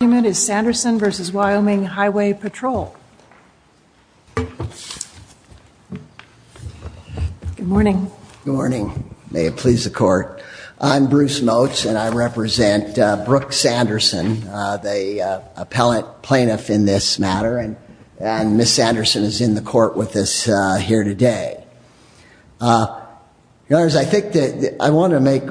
Good morning. May it please the court. I'm Bruce Motz and I represent Brooke Sanderson, the appellate plaintiff in this matter, and Ms. Sanderson is in the court with us here today. I want to make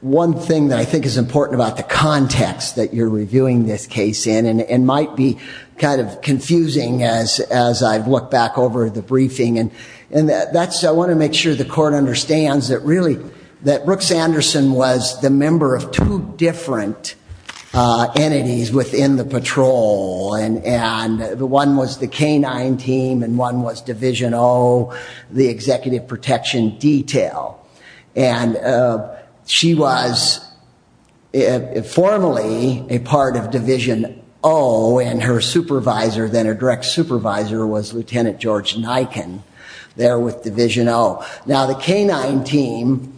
one thing that I think is important about the context that you're reviewing this case. And it might be kind of confusing as I look back over the briefing. I want to make sure the court understands that Brooke Sanderson was the member of two different entities within the patrol. One was the canine team and one was Division O, the executive protection detail. And she was formally a part of Division O and her supervisor, then a direct supervisor, was Lt. George Nyken there with Division O. Now the canine team,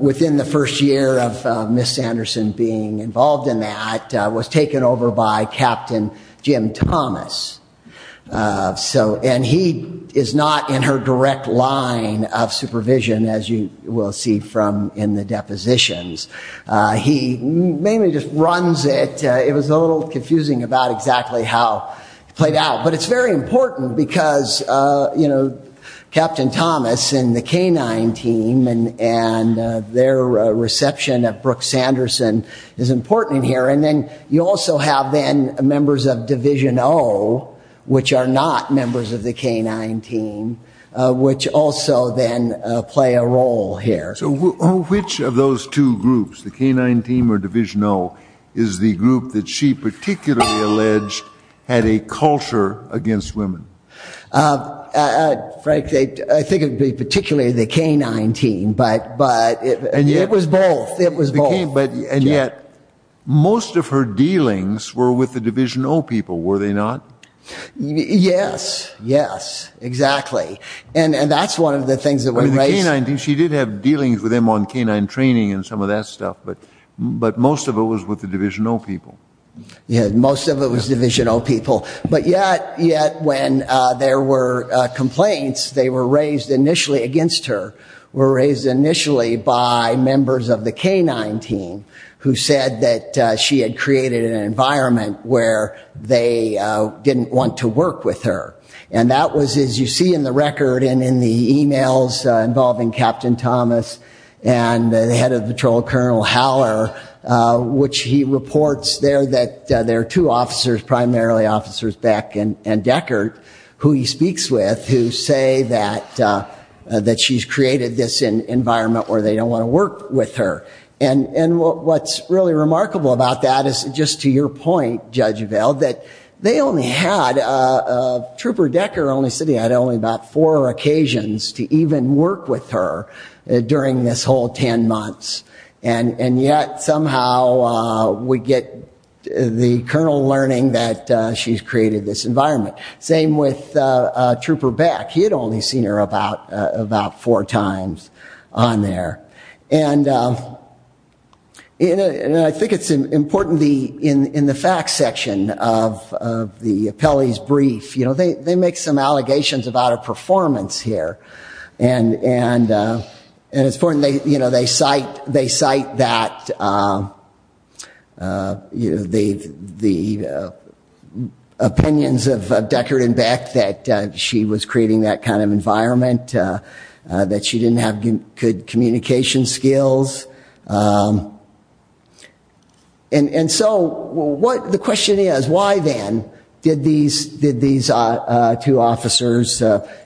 within the first year of Ms. Sanderson being involved in that, was taken over by Captain Jim Thomas. And he is not in her direct line of supervision as you will see in the depositions. He mainly just runs it. It was a little confusing about exactly how it played out. But it's very important because Captain Thomas and the canine team and their reception of Brooke Sanderson is important here. And then you also have then members of Division O, which are not members of the canine team, which also then play a role here. So which of those two groups, the canine team or Division O, is the group that she particularly alleged had a culture against women? Frankly, I think it would be particularly the canine team. But it was both. And yet, most of her dealings were with the Division O people, were they not? Yes, yes, exactly. And that's one of the things that we raised. She did have dealings with them on canine training and some of that stuff, but most of it was with the Division O people. Yeah, most of it was Division O people. But yet when there were complaints, they were raised initially against her, were raised initially by members of the canine team who said that she had created an environment where they didn't want to work with her. And that was, as you see in the record and in the emails involving Captain Thomas and the head of patrol, Colonel Haller, which he reports there that there are two officers, primarily Officers Beck and Deckert, who he speaks with, who say that she's created this environment where they don't want to work with her. And what's really remarkable about that is, just to your point, Judge Vail, that they only had, Trooper Deckert only said he had only about four occasions to even work with her during this whole ten months. And yet somehow we get the Colonel learning that she's created this environment. Same with Trooper Beck. He had only seen her about four times on there. And I think it's important in the facts section of the appellee's brief, they make some allegations about her performance here. And it's important, they cite that, the opinions of Deckert and Beck that she was creating that kind of environment, that she didn't have good communication skills. And so the question is, why then did these two officers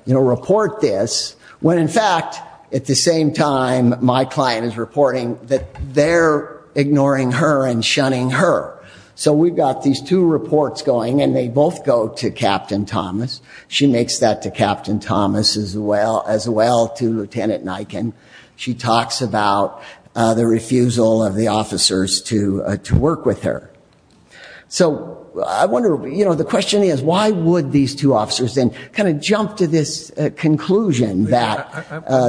report this, when in fact at the same time my client is reporting that they're ignoring her and shunning her. So we've got these two reports going and they both go to Captain Thomas. She makes that to Captain Thomas as well, as well to Lieutenant Nyken. She talks about the refusal of the officers to work with her. So I wonder, you know, the question is, why would these two officers then kind of jump to this conclusion that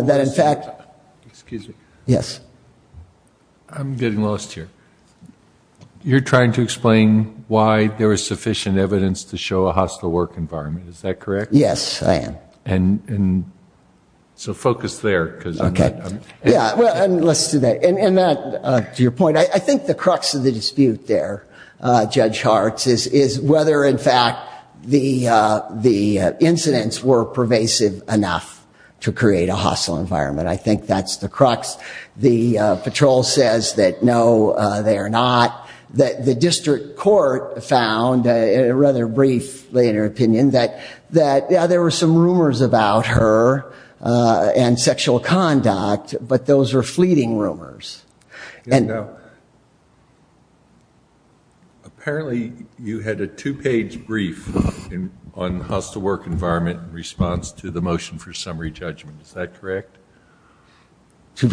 in fact. Excuse me. Yes. I'm getting lost here. You're trying to explain why there was sufficient evidence to show a hostile work environment, is that correct? Yes, I am. So focus there. Okay. Yeah, well, let's do that. And to your point, I think the crux of the dispute there, Judge Hart, is whether in fact the incidents were pervasive enough to create a hostile environment. I think that's the crux. The patrol says that no, they are not. The district court found, in a rather brief later opinion, that there were some rumors about her and sexual conduct, but those were fleeting rumors. Apparently you had a two-page brief on hostile work environment in response to the motion for summary judgment. Is that correct? I'm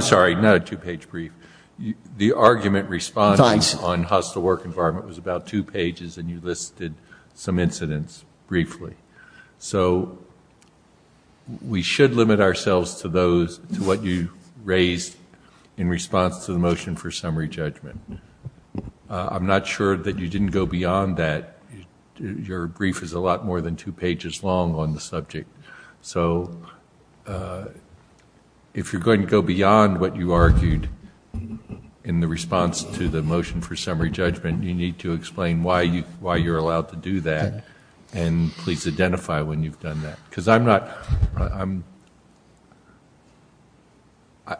sorry, not a two-page brief. The argument response on hostile work environment was about two pages, and you listed some incidents briefly. So we should limit ourselves to what you raised in response to the motion for summary judgment. I'm not sure that you didn't go beyond that. Your brief is a lot more than two pages long on the subject. So if you're going to go beyond what you argued in the response to the motion for summary judgment, you need to explain why you're allowed to do that, and please identify when you've done that. Because I'm not ñ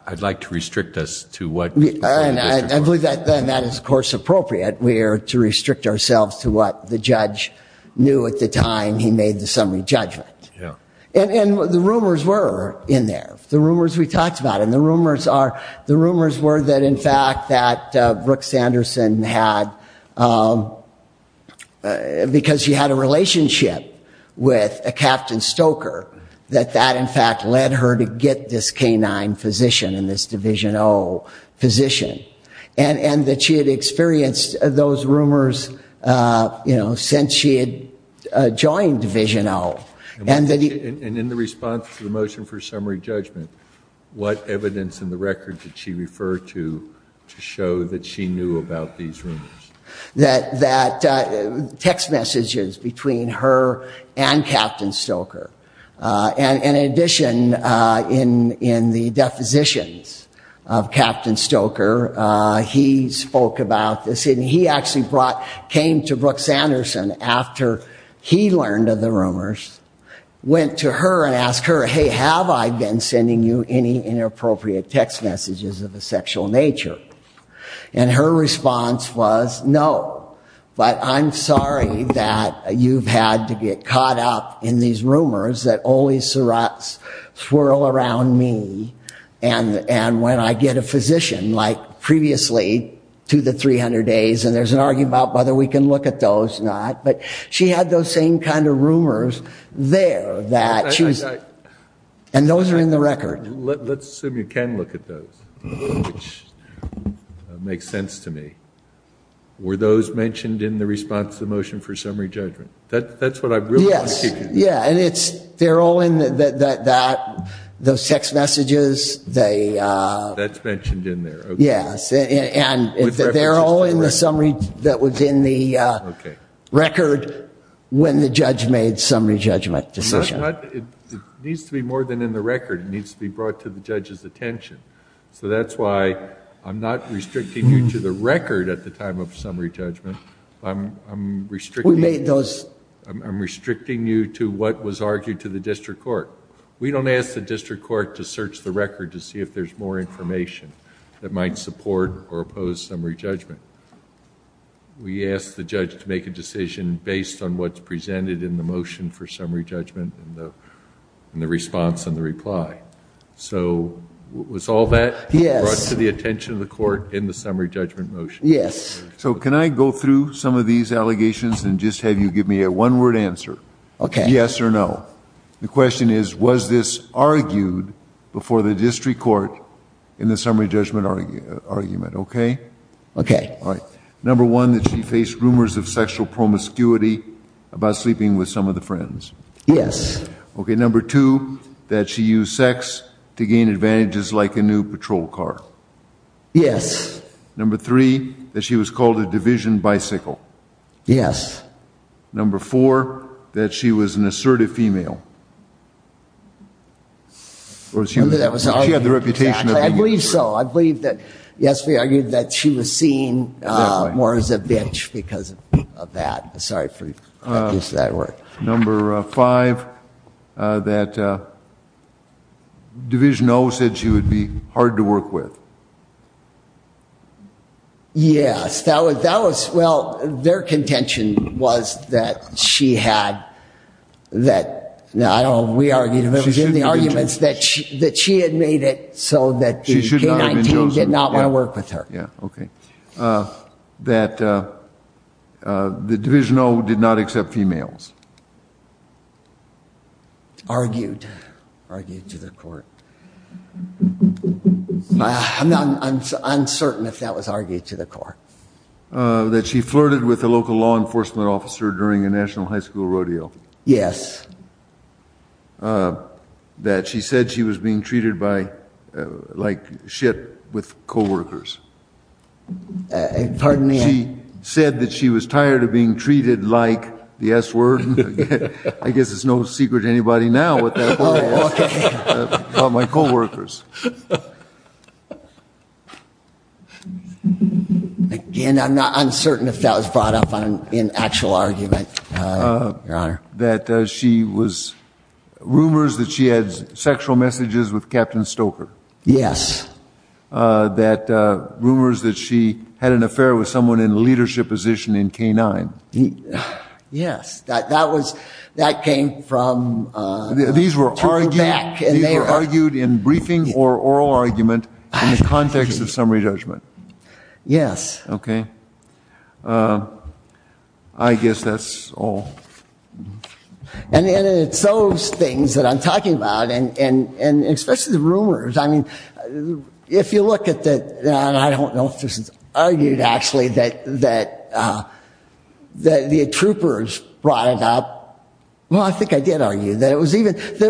I'd like to restrict us to what you said. I believe that is, of course, appropriate. We are to restrict ourselves to what the judge knew at the time he made the summary judgment. And the rumors were in there, the rumors we talked about. And the rumors were that, in fact, that Brooke Sanderson had, because she had a relationship with a Captain Stoker, that that, in fact, led her to get this K-9 physician and this Division O physician, and that she had experienced those rumors since she had joined Division O. And in the response to the motion for summary judgment, what evidence in the record did she refer to to show that she knew about these rumors? That text messages between her and Captain Stoker, and in addition, in the depositions of Captain Stoker, he spoke about this, and he actually came to Brooke Sanderson after he learned of the rumors, went to her and asked her, hey, have I been sending you any inappropriate text messages of a sexual nature? And her response was, no, but I'm sorry that you've had to get caught up in these rumors that always swirl around me, and when I get a physician, like previously, to the 300 days, and there's an argument about whether we can look at those or not, but she had those same kind of rumors there, and those are in the record. Let's assume you can look at those, which makes sense to me. Were those mentioned in the response to the motion for summary judgment? That's what I really want to keep in mind. Yes, yeah, and they're all in those text messages. That's mentioned in there, okay. Yes, and they're all in the summary that was in the record when the judge made the summary judgment decision. It needs to be more than in the record. It needs to be brought to the judge's attention, so that's why I'm not restricting you to the record at the time of summary judgment. I'm restricting you to what was argued to the district court. We don't ask the district court to search the record to see if there's more information that might support or oppose summary judgment. We ask the judge to make a decision based on what's presented in the motion for summary judgment and the response and the reply. So was all that brought to the attention of the court in the summary judgment motion? Yes. So can I go through some of these allegations and just have you give me a one-word answer? Okay. Yes or no. The question is, was this argued before the district court in the summary judgment argument, okay? Okay. All right. Number one, that she faced rumors of sexual promiscuity about sleeping with some of the friends. Yes. Okay. Number two, that she used sex to gain advantages like a new patrol car. Yes. Number three, that she was called a division bicycle. Yes. Number four, that she was an assertive female. She had the reputation of being assertive. I believe so. I believe that, yes, we argued that she was seen more as a bitch because of that. Sorry for using that word. Number five, that Division O said she would be hard to work with. Yes. That was, well, their contention was that she had, that, I don't know, we argued, that she had made it so that K-19 did not want to work with her. Okay. That the Division O did not accept females. Argued, argued to the court. I'm uncertain if that was argued to the court. That she flirted with a local law enforcement officer during a national high school rodeo. Yes. That she said she was being treated by, like shit with coworkers. Pardon me? She said that she was tired of being treated like, the S word, I guess it's no secret to anybody now what that word is. Oh, okay. About my coworkers. Again, I'm not uncertain if that was brought up in actual argument, Your Honor. That she was, rumors that she had sexual messages with Captain Stoker. Yes. That rumors that she had an affair with someone in a leadership position in K-9. Yes. That was, that came from. These were argued in briefing or oral argument in the context of summary judgment. Yes. Okay. I guess that's all. And it's those things that I'm talking about, and especially the rumors. I mean, if you look at the, I don't know if this is argued actually, that the troopers brought it up. Well, I think I did argue that it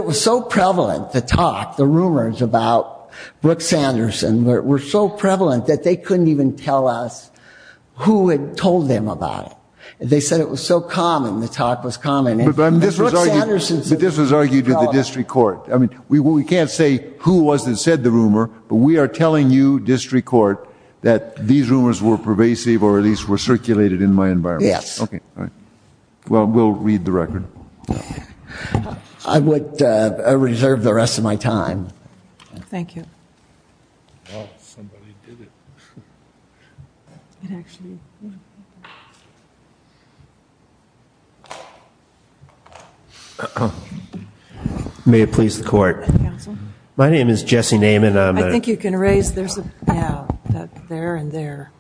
was so prevalent, the talk, the rumors about Brooke Sanderson were so prevalent that they couldn't even tell us who had told them about it. They said it was so common, the talk was common. But this was argued with the district court. I mean, we can't say who was it that said the rumor, but we are telling you, district court, that these rumors were pervasive or at least were circulated in my environment. Yes. Okay. All right. Well, we'll read the record. I would reserve the rest of my time. Thank you. Well, somebody did it. It actually, yeah. May it please the court. Counsel? My name is Jesse Naiman. I think you can raise, there's a, yeah, there and there.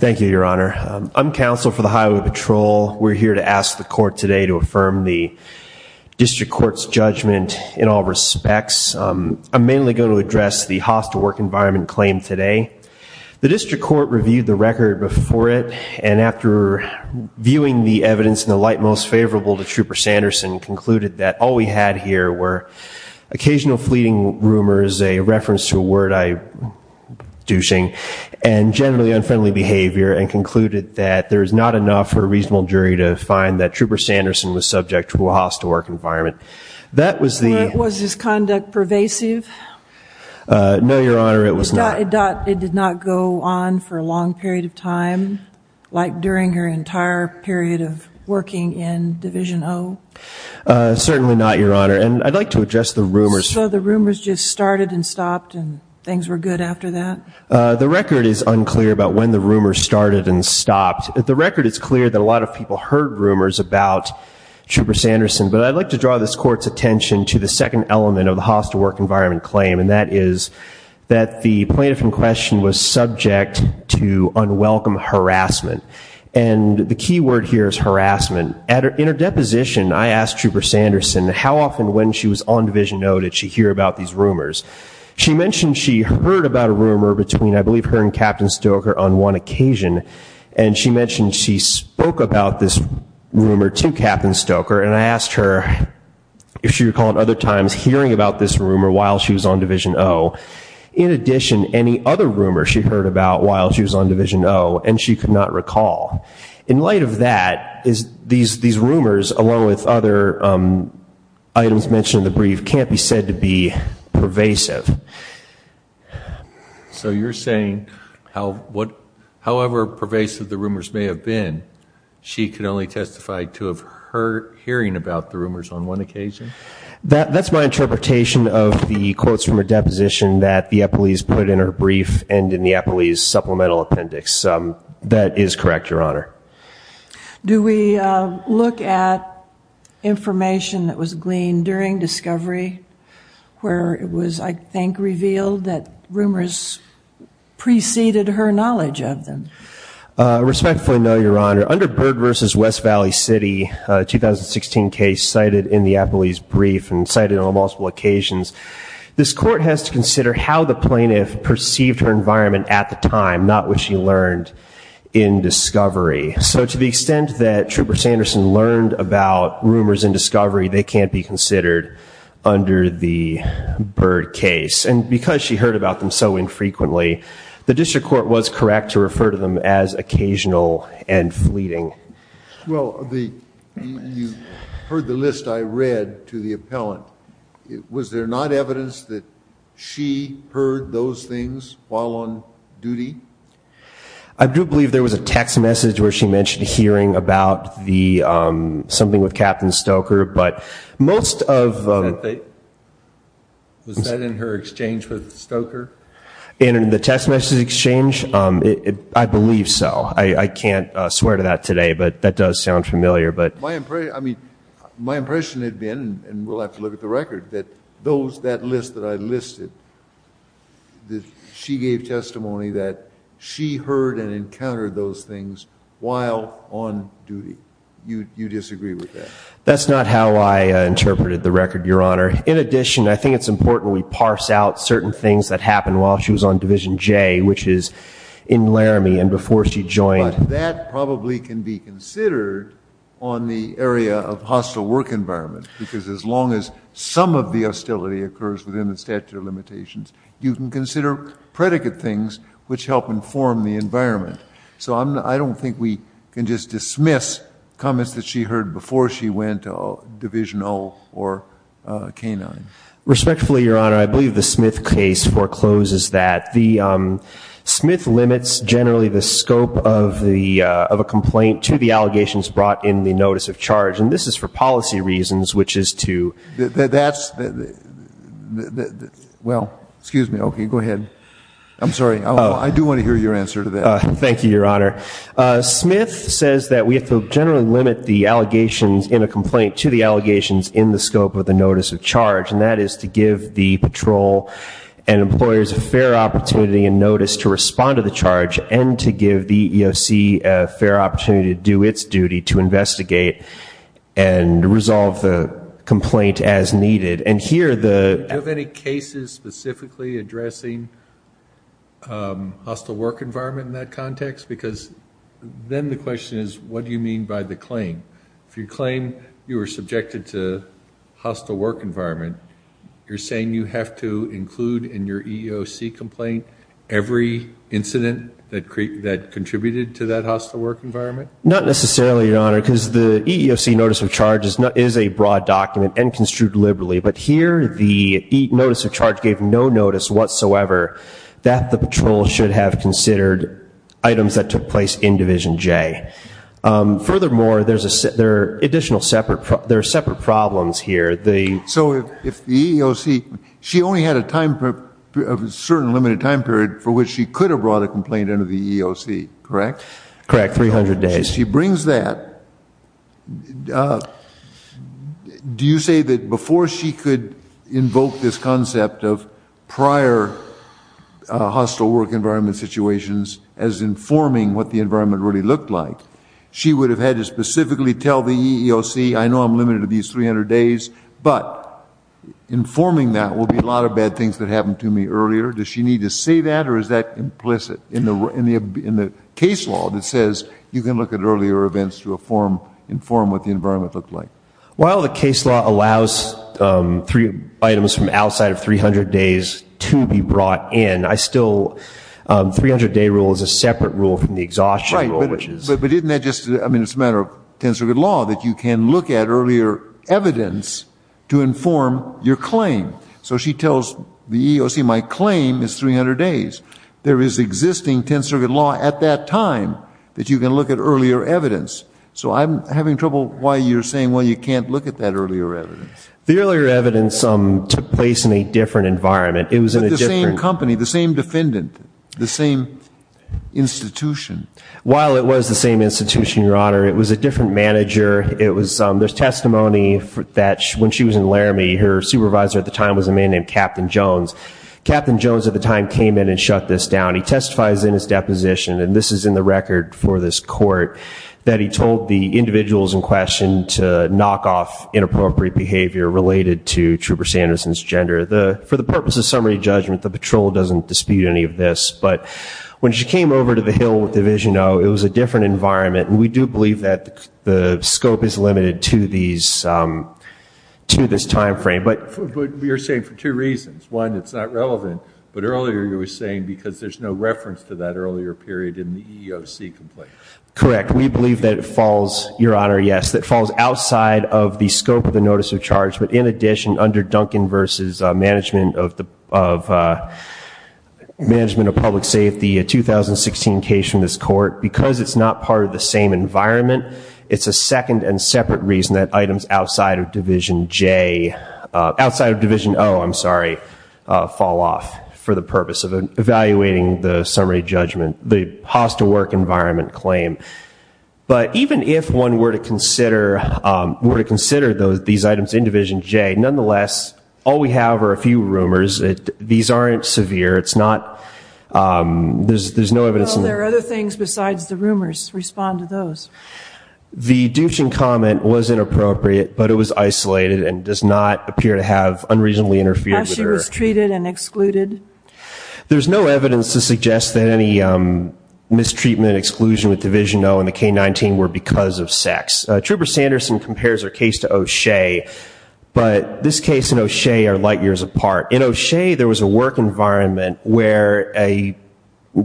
Thank you, Your Honor. I'm counsel for the Highway Patrol. We're here to ask the court today to affirm the district court's judgment in all respects. I'm mainly going to address the hostile work environment claim today. The district court reviewed the record before it, and after viewing the evidence in the light most favorable to Trooper Sanderson, concluded that all we had here were occasional fleeting rumors, a reference to a word I, douching, and generally unfriendly behavior, and concluded that there is not enough for a reasonable jury to find that Trooper Sanderson was subject to a hostile work environment. Was his conduct pervasive? No, Your Honor, it was not. It did not go on for a long period of time, like during her entire period of working in Division O? Certainly not, Your Honor, and I'd like to address the rumors. So the rumors just started and stopped and things were good after that? The record is unclear about when the rumors started and stopped. The record is clear that a lot of people heard rumors about Trooper Sanderson, but I'd like to draw this Court's attention to the second element of the hostile work environment claim, and that is that the plaintiff in question was subject to unwelcome harassment, and the key word here is harassment. In her deposition, I asked Trooper Sanderson how often when she was on Division O did she hear about these rumors. She mentioned she heard about a rumor between, I believe, her and Captain Stoker on one occasion, and she mentioned she spoke about this rumor to Captain Stoker, and I asked her if she recalled other times hearing about this rumor while she was on Division O. In addition, any other rumors she heard about while she was on Division O, and she could not recall. In light of that, these rumors, along with other items mentioned in the brief, can't be said to be pervasive. So you're saying, however pervasive the rumors may have been, she can only testify to of her hearing about the rumors on one occasion? That's my interpretation of the quotes from her deposition that the Eppleys put in her brief and in the Eppleys supplemental appendix. That is correct, Your Honor. Do we look at information that was gleaned during discovery, where it was, I think, revealed that rumors preceded her knowledge of them? Respectfully, no, Your Honor. Under Byrd v. West Valley City, a 2016 case cited in the Eppleys brief and cited on multiple occasions, this Court has to consider how the plaintiff perceived her environment at the time, not what she learned in discovery. So to the extent that Trooper Sanderson learned about rumors in discovery, they can't be considered under the Byrd case. And because she heard about them so infrequently, the district court was correct to refer to them as occasional and fleeting. Well, you heard the list I read to the appellant. Was there not evidence that she heard those things while on duty? I do believe there was a text message where she mentioned hearing about something with Captain Stoker. Was that in her exchange with Stoker? In the text message exchange? I believe so. I can't swear to that today, but that does sound familiar. My impression had been, and we'll have to look at the record, that that list that I listed, she gave testimony that she heard and encountered those things while on duty. You disagree with that? That's not how I interpreted the record, Your Honor. In addition, I think it's important we parse out certain things that happened while she was on Division J, which is in Laramie and before she joined. But that probably can be considered on the area of hostile work environment, because as long as some of the hostility occurs within the statute of limitations, you can consider predicate things which help inform the environment. So I don't think we can just dismiss comments that she heard before she went to Division O or K-9. Respectfully, Your Honor, I believe the Smith case forecloses that. Smith limits generally the scope of a complaint to the allegations brought in the notice of charge, and this is for policy reasons, which is to ‑‑ Well, excuse me. Okay, go ahead. I'm sorry. I do want to hear your answer to that. Thank you, Your Honor. Smith says that we have to generally limit the allegations in a complaint to the allegations in the scope of the notice of charge, and that is to give the patrol and employers a fair opportunity in notice to respond to the charge and to give the EOC a fair opportunity to do its duty to investigate and resolve the complaint as needed. Do you have any cases specifically addressing hostile work environment in that context? Because then the question is, what do you mean by the claim? If you claim you were subjected to hostile work environment, you're saying you have to include in your EEOC complaint every incident that contributed to that hostile work environment? Not necessarily, Your Honor, because the EEOC notice of charge is a broad document and construed liberally, but here the notice of charge gave no notice whatsoever that the patrol should have considered items that took place in Division J. Furthermore, there are separate problems here. So if the EEOC, she only had a certain limited time period for which she could have brought a complaint into the EEOC, correct? Correct, 300 days. And if she brings that, do you say that before she could invoke this concept of prior hostile work environment situations as informing what the environment really looked like, she would have had to specifically tell the EEOC, I know I'm limited to these 300 days, but informing that will be a lot of bad things that happened to me earlier? Does she need to say that or is that implicit in the case law that says you can look at earlier events to inform what the environment looked like? Well, the case law allows three items from outside of 300 days to be brought in. I still, 300-day rule is a separate rule from the exhaustion rule. Right, but isn't that just, I mean, it's a matter of tensor grid law that you can look at earlier evidence to inform your claim. So she tells the EEOC, my claim is 300 days. There is existing tensor grid law at that time that you can look at earlier evidence. So I'm having trouble why you're saying, well, you can't look at that earlier evidence. The earlier evidence took place in a different environment. It was in a different- With the same company, the same defendant, the same institution. While it was the same institution, Your Honor, it was a different manager. There's testimony that when she was in Laramie, her supervisor at the time was a man named Captain Jones. Captain Jones at the time came in and shut this down. He testifies in his deposition, and this is in the record for this court, that he told the individuals in question to knock off inappropriate behavior related to Trooper Sanderson's gender. For the purpose of summary judgment, the patrol doesn't dispute any of this. But when she came over to the hill with Division O, it was a different environment. And we do believe that the scope is limited to this time frame. But you're saying for two reasons. One, it's not relevant. But earlier you were saying because there's no reference to that earlier period in the EEOC complaint. Correct. We believe that it falls, Your Honor, yes, that it falls outside of the scope of the notice of charge. But in addition, under Duncan v. Management of Public Safety, a 2016 case from this court, because it's not part of the same environment, it's a second and separate reason that items outside of Division J, outside of Division O, I'm sorry, fall off for the purpose of evaluating the summary judgment, the hostile work environment claim. But even if one were to consider these items in Division J, nonetheless, all we have are a few rumors. These aren't severe. It's not, there's no evidence. Well, there are other things besides the rumors. Respond to those. The Duchin comment was inappropriate, but it was isolated and does not appear to have unreasonably interfered with her. How she was treated and excluded? There's no evidence to suggest that any mistreatment, exclusion with Division O and the K-19 were because of sex. Trooper Sanderson compares her case to O'Shea, but this case and O'Shea are light years apart. In O'Shea, there was a work environment where a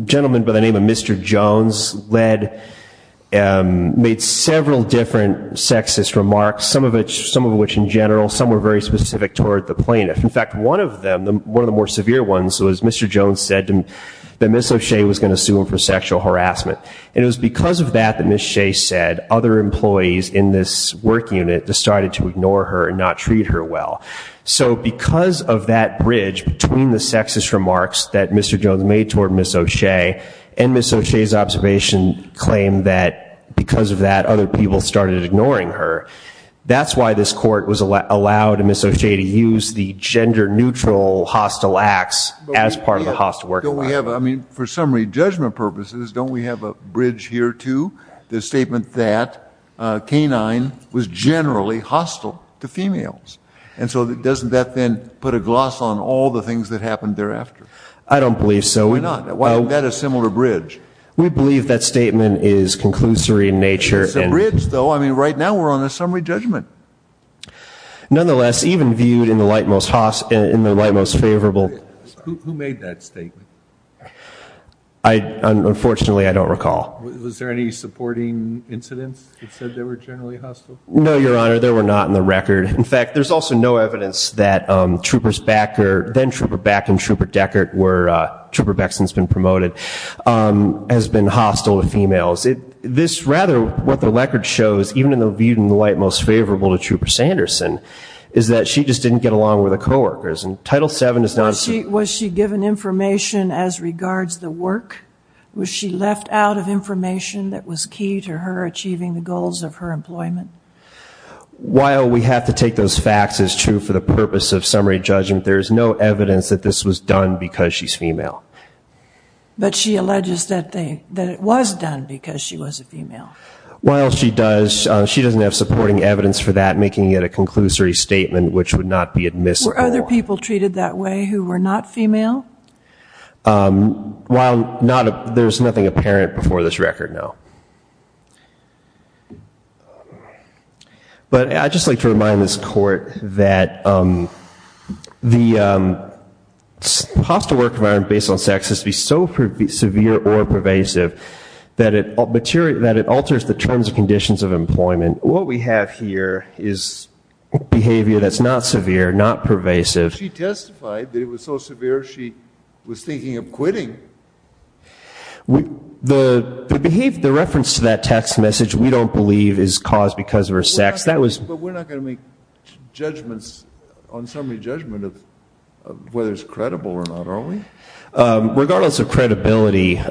gentleman by the name of Mr. Jones led, made several different sexist remarks, some of which in general, some were very specific toward the plaintiff. In fact, one of them, one of the more severe ones was Mr. Jones said that Ms. O'Shea was going to sue him for sexual harassment. And it was because of that that Ms. O'Shea said other employees in this work unit decided to ignore her and not treat her well. So because of that bridge between the sexist remarks that Mr. Jones made toward Ms. O'Shea and Ms. O'Shea's observation claim that because of that other people started ignoring her, that's why this court was allowed Ms. O'Shea to use the gender neutral hostile acts as part of the hostile work environment. I mean, for summary judgment purposes, don't we have a bridge here too? The statement that K-9 was generally hostile to females. And so doesn't that then put a gloss on all the things that happened thereafter? I don't believe so. Why not? Why isn't that a similar bridge? We believe that statement is conclusory in nature. It's a bridge, though. I mean, right now we're on a summary judgment. Nonetheless, even viewed in the light most favorable. Who made that statement? Unfortunately, I don't recall. Was there any supporting incidents that said they were generally hostile? No, Your Honor. There were not in the record. In fact, there's also no evidence that Troopers Becker, then Trooper Becker and Trooper Deckard, where Trooper Beckson's been promoted, has been hostile to females. Rather, what the record shows, even viewed in the light most favorable to Trooper Sanderson, is that she just didn't get along with her coworkers. Title VII is not a suit. Was she given information as regards the work? Was she left out of information that was key to her achieving the goals of her employment? While we have to take those facts as true for the purpose of summary judgment, there is no evidence that this was done because she's female. But she alleges that it was done because she was a female. While she does, she doesn't have supporting evidence for that, making it a conclusory statement which would not be admissible. Were other people treated that way who were not female? While there's nothing apparent before this record, no. But I'd just like to remind this Court that the hostile work environment based on sex has to be so severe or pervasive that it alters the terms and conditions of employment. What we have here is behavior that's not severe, not pervasive. But she testified that it was so severe she was thinking of quitting. The reference to that text message, we don't believe is caused because of her sex. But we're not going to make judgments on summary judgment of whether it's credible or not, are we? Regardless of credibility,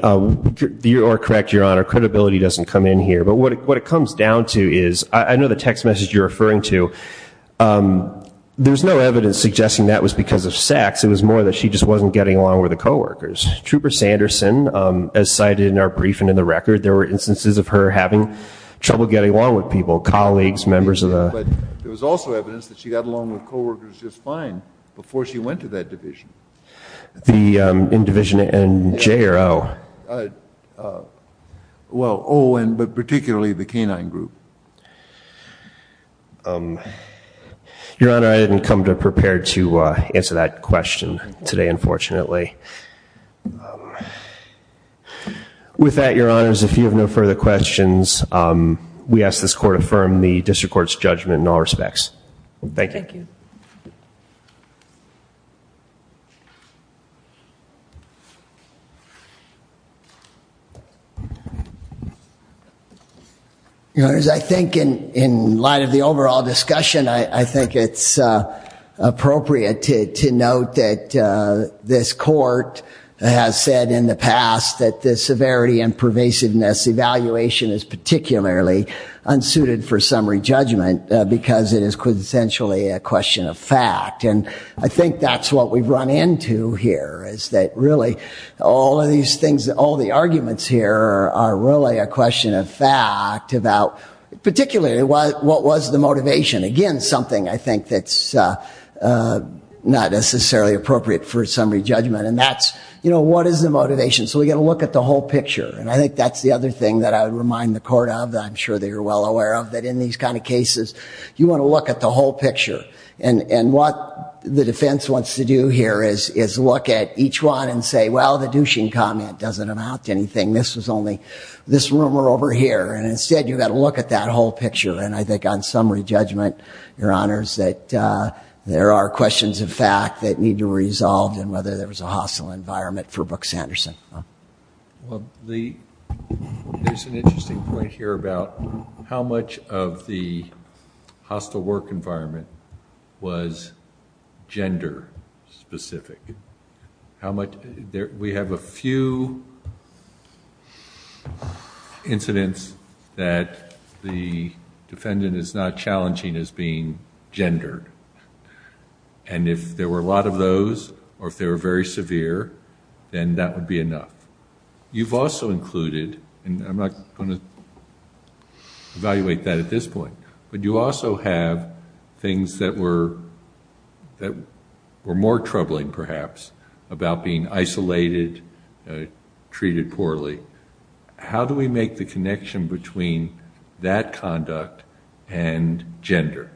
you are correct, Your Honor, credibility doesn't come in here. But what it comes down to is, I know the text message you're referring to, there's no evidence suggesting that was because of sex. It was more that she just wasn't getting along with the co-workers. Trooper Sanderson, as cited in our brief and in the record, there were instances of her having trouble getting along with people, colleagues, members of the- But there was also evidence that she got along with co-workers just fine before she went to that division. In Division J or O? Well, O, but particularly the canine group. Your Honor, I didn't come prepared to answer that question today, unfortunately. With that, Your Honors, if you have no further questions, we ask this Court affirm the District Court's judgment in all respects. Thank you. Thank you. Your Honors, I think in light of the overall discussion, I think it's appropriate to note that this Court has said in the past that the severity and pervasiveness evaluation is particularly unsuited for summary judgment because it is essentially a question of fact. And I think that's what we've run into here, is that really all of these things, all the arguments here are really a question of fact about particularly what was the motivation. Again, something I think that's not necessarily appropriate for summary judgment. And that's, you know, what is the motivation? So we've got to look at the whole picture. And I think that's the other thing that I would remind the Court of that I'm sure they are well aware of, that in these kind of cases, you want to look at the whole picture. And what the defense wants to do here is look at each one and say, well, the douching comment doesn't amount to anything. This was only this rumor over here. And instead, you've got to look at that whole picture. And I think on summary judgment, Your Honors, that there are questions of fact that need to be resolved and whether there was a hostile environment for Brooks Anderson. Well, there's an interesting point here about how much of the hostile work environment was gender specific. We have a few incidents that the defendant is not challenging as being gendered. And if there were a lot of those, or if they were very severe, then that would be enough. You've also included, and I'm not going to evaluate that at this point, but you also have things that were more troubling, perhaps, about being isolated, treated poorly. How do we make the connection between that conduct and gender?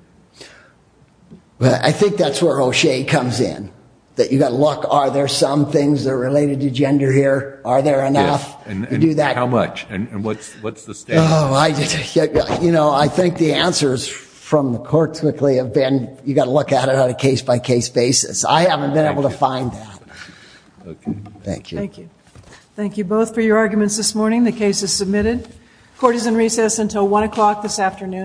Well, I think that's where O'Shea comes in. You've got to look. Are there some things that are related to gender here? Are there enough? Yes, and how much? And what's the standard? I think the answers from the court typically have been, you've got to look at it on a case-by-case basis. I haven't been able to find that. Thank you. Thank you. Thank you both for your arguments this morning. The case is submitted. Court is in recess until 1 o'clock this afternoon.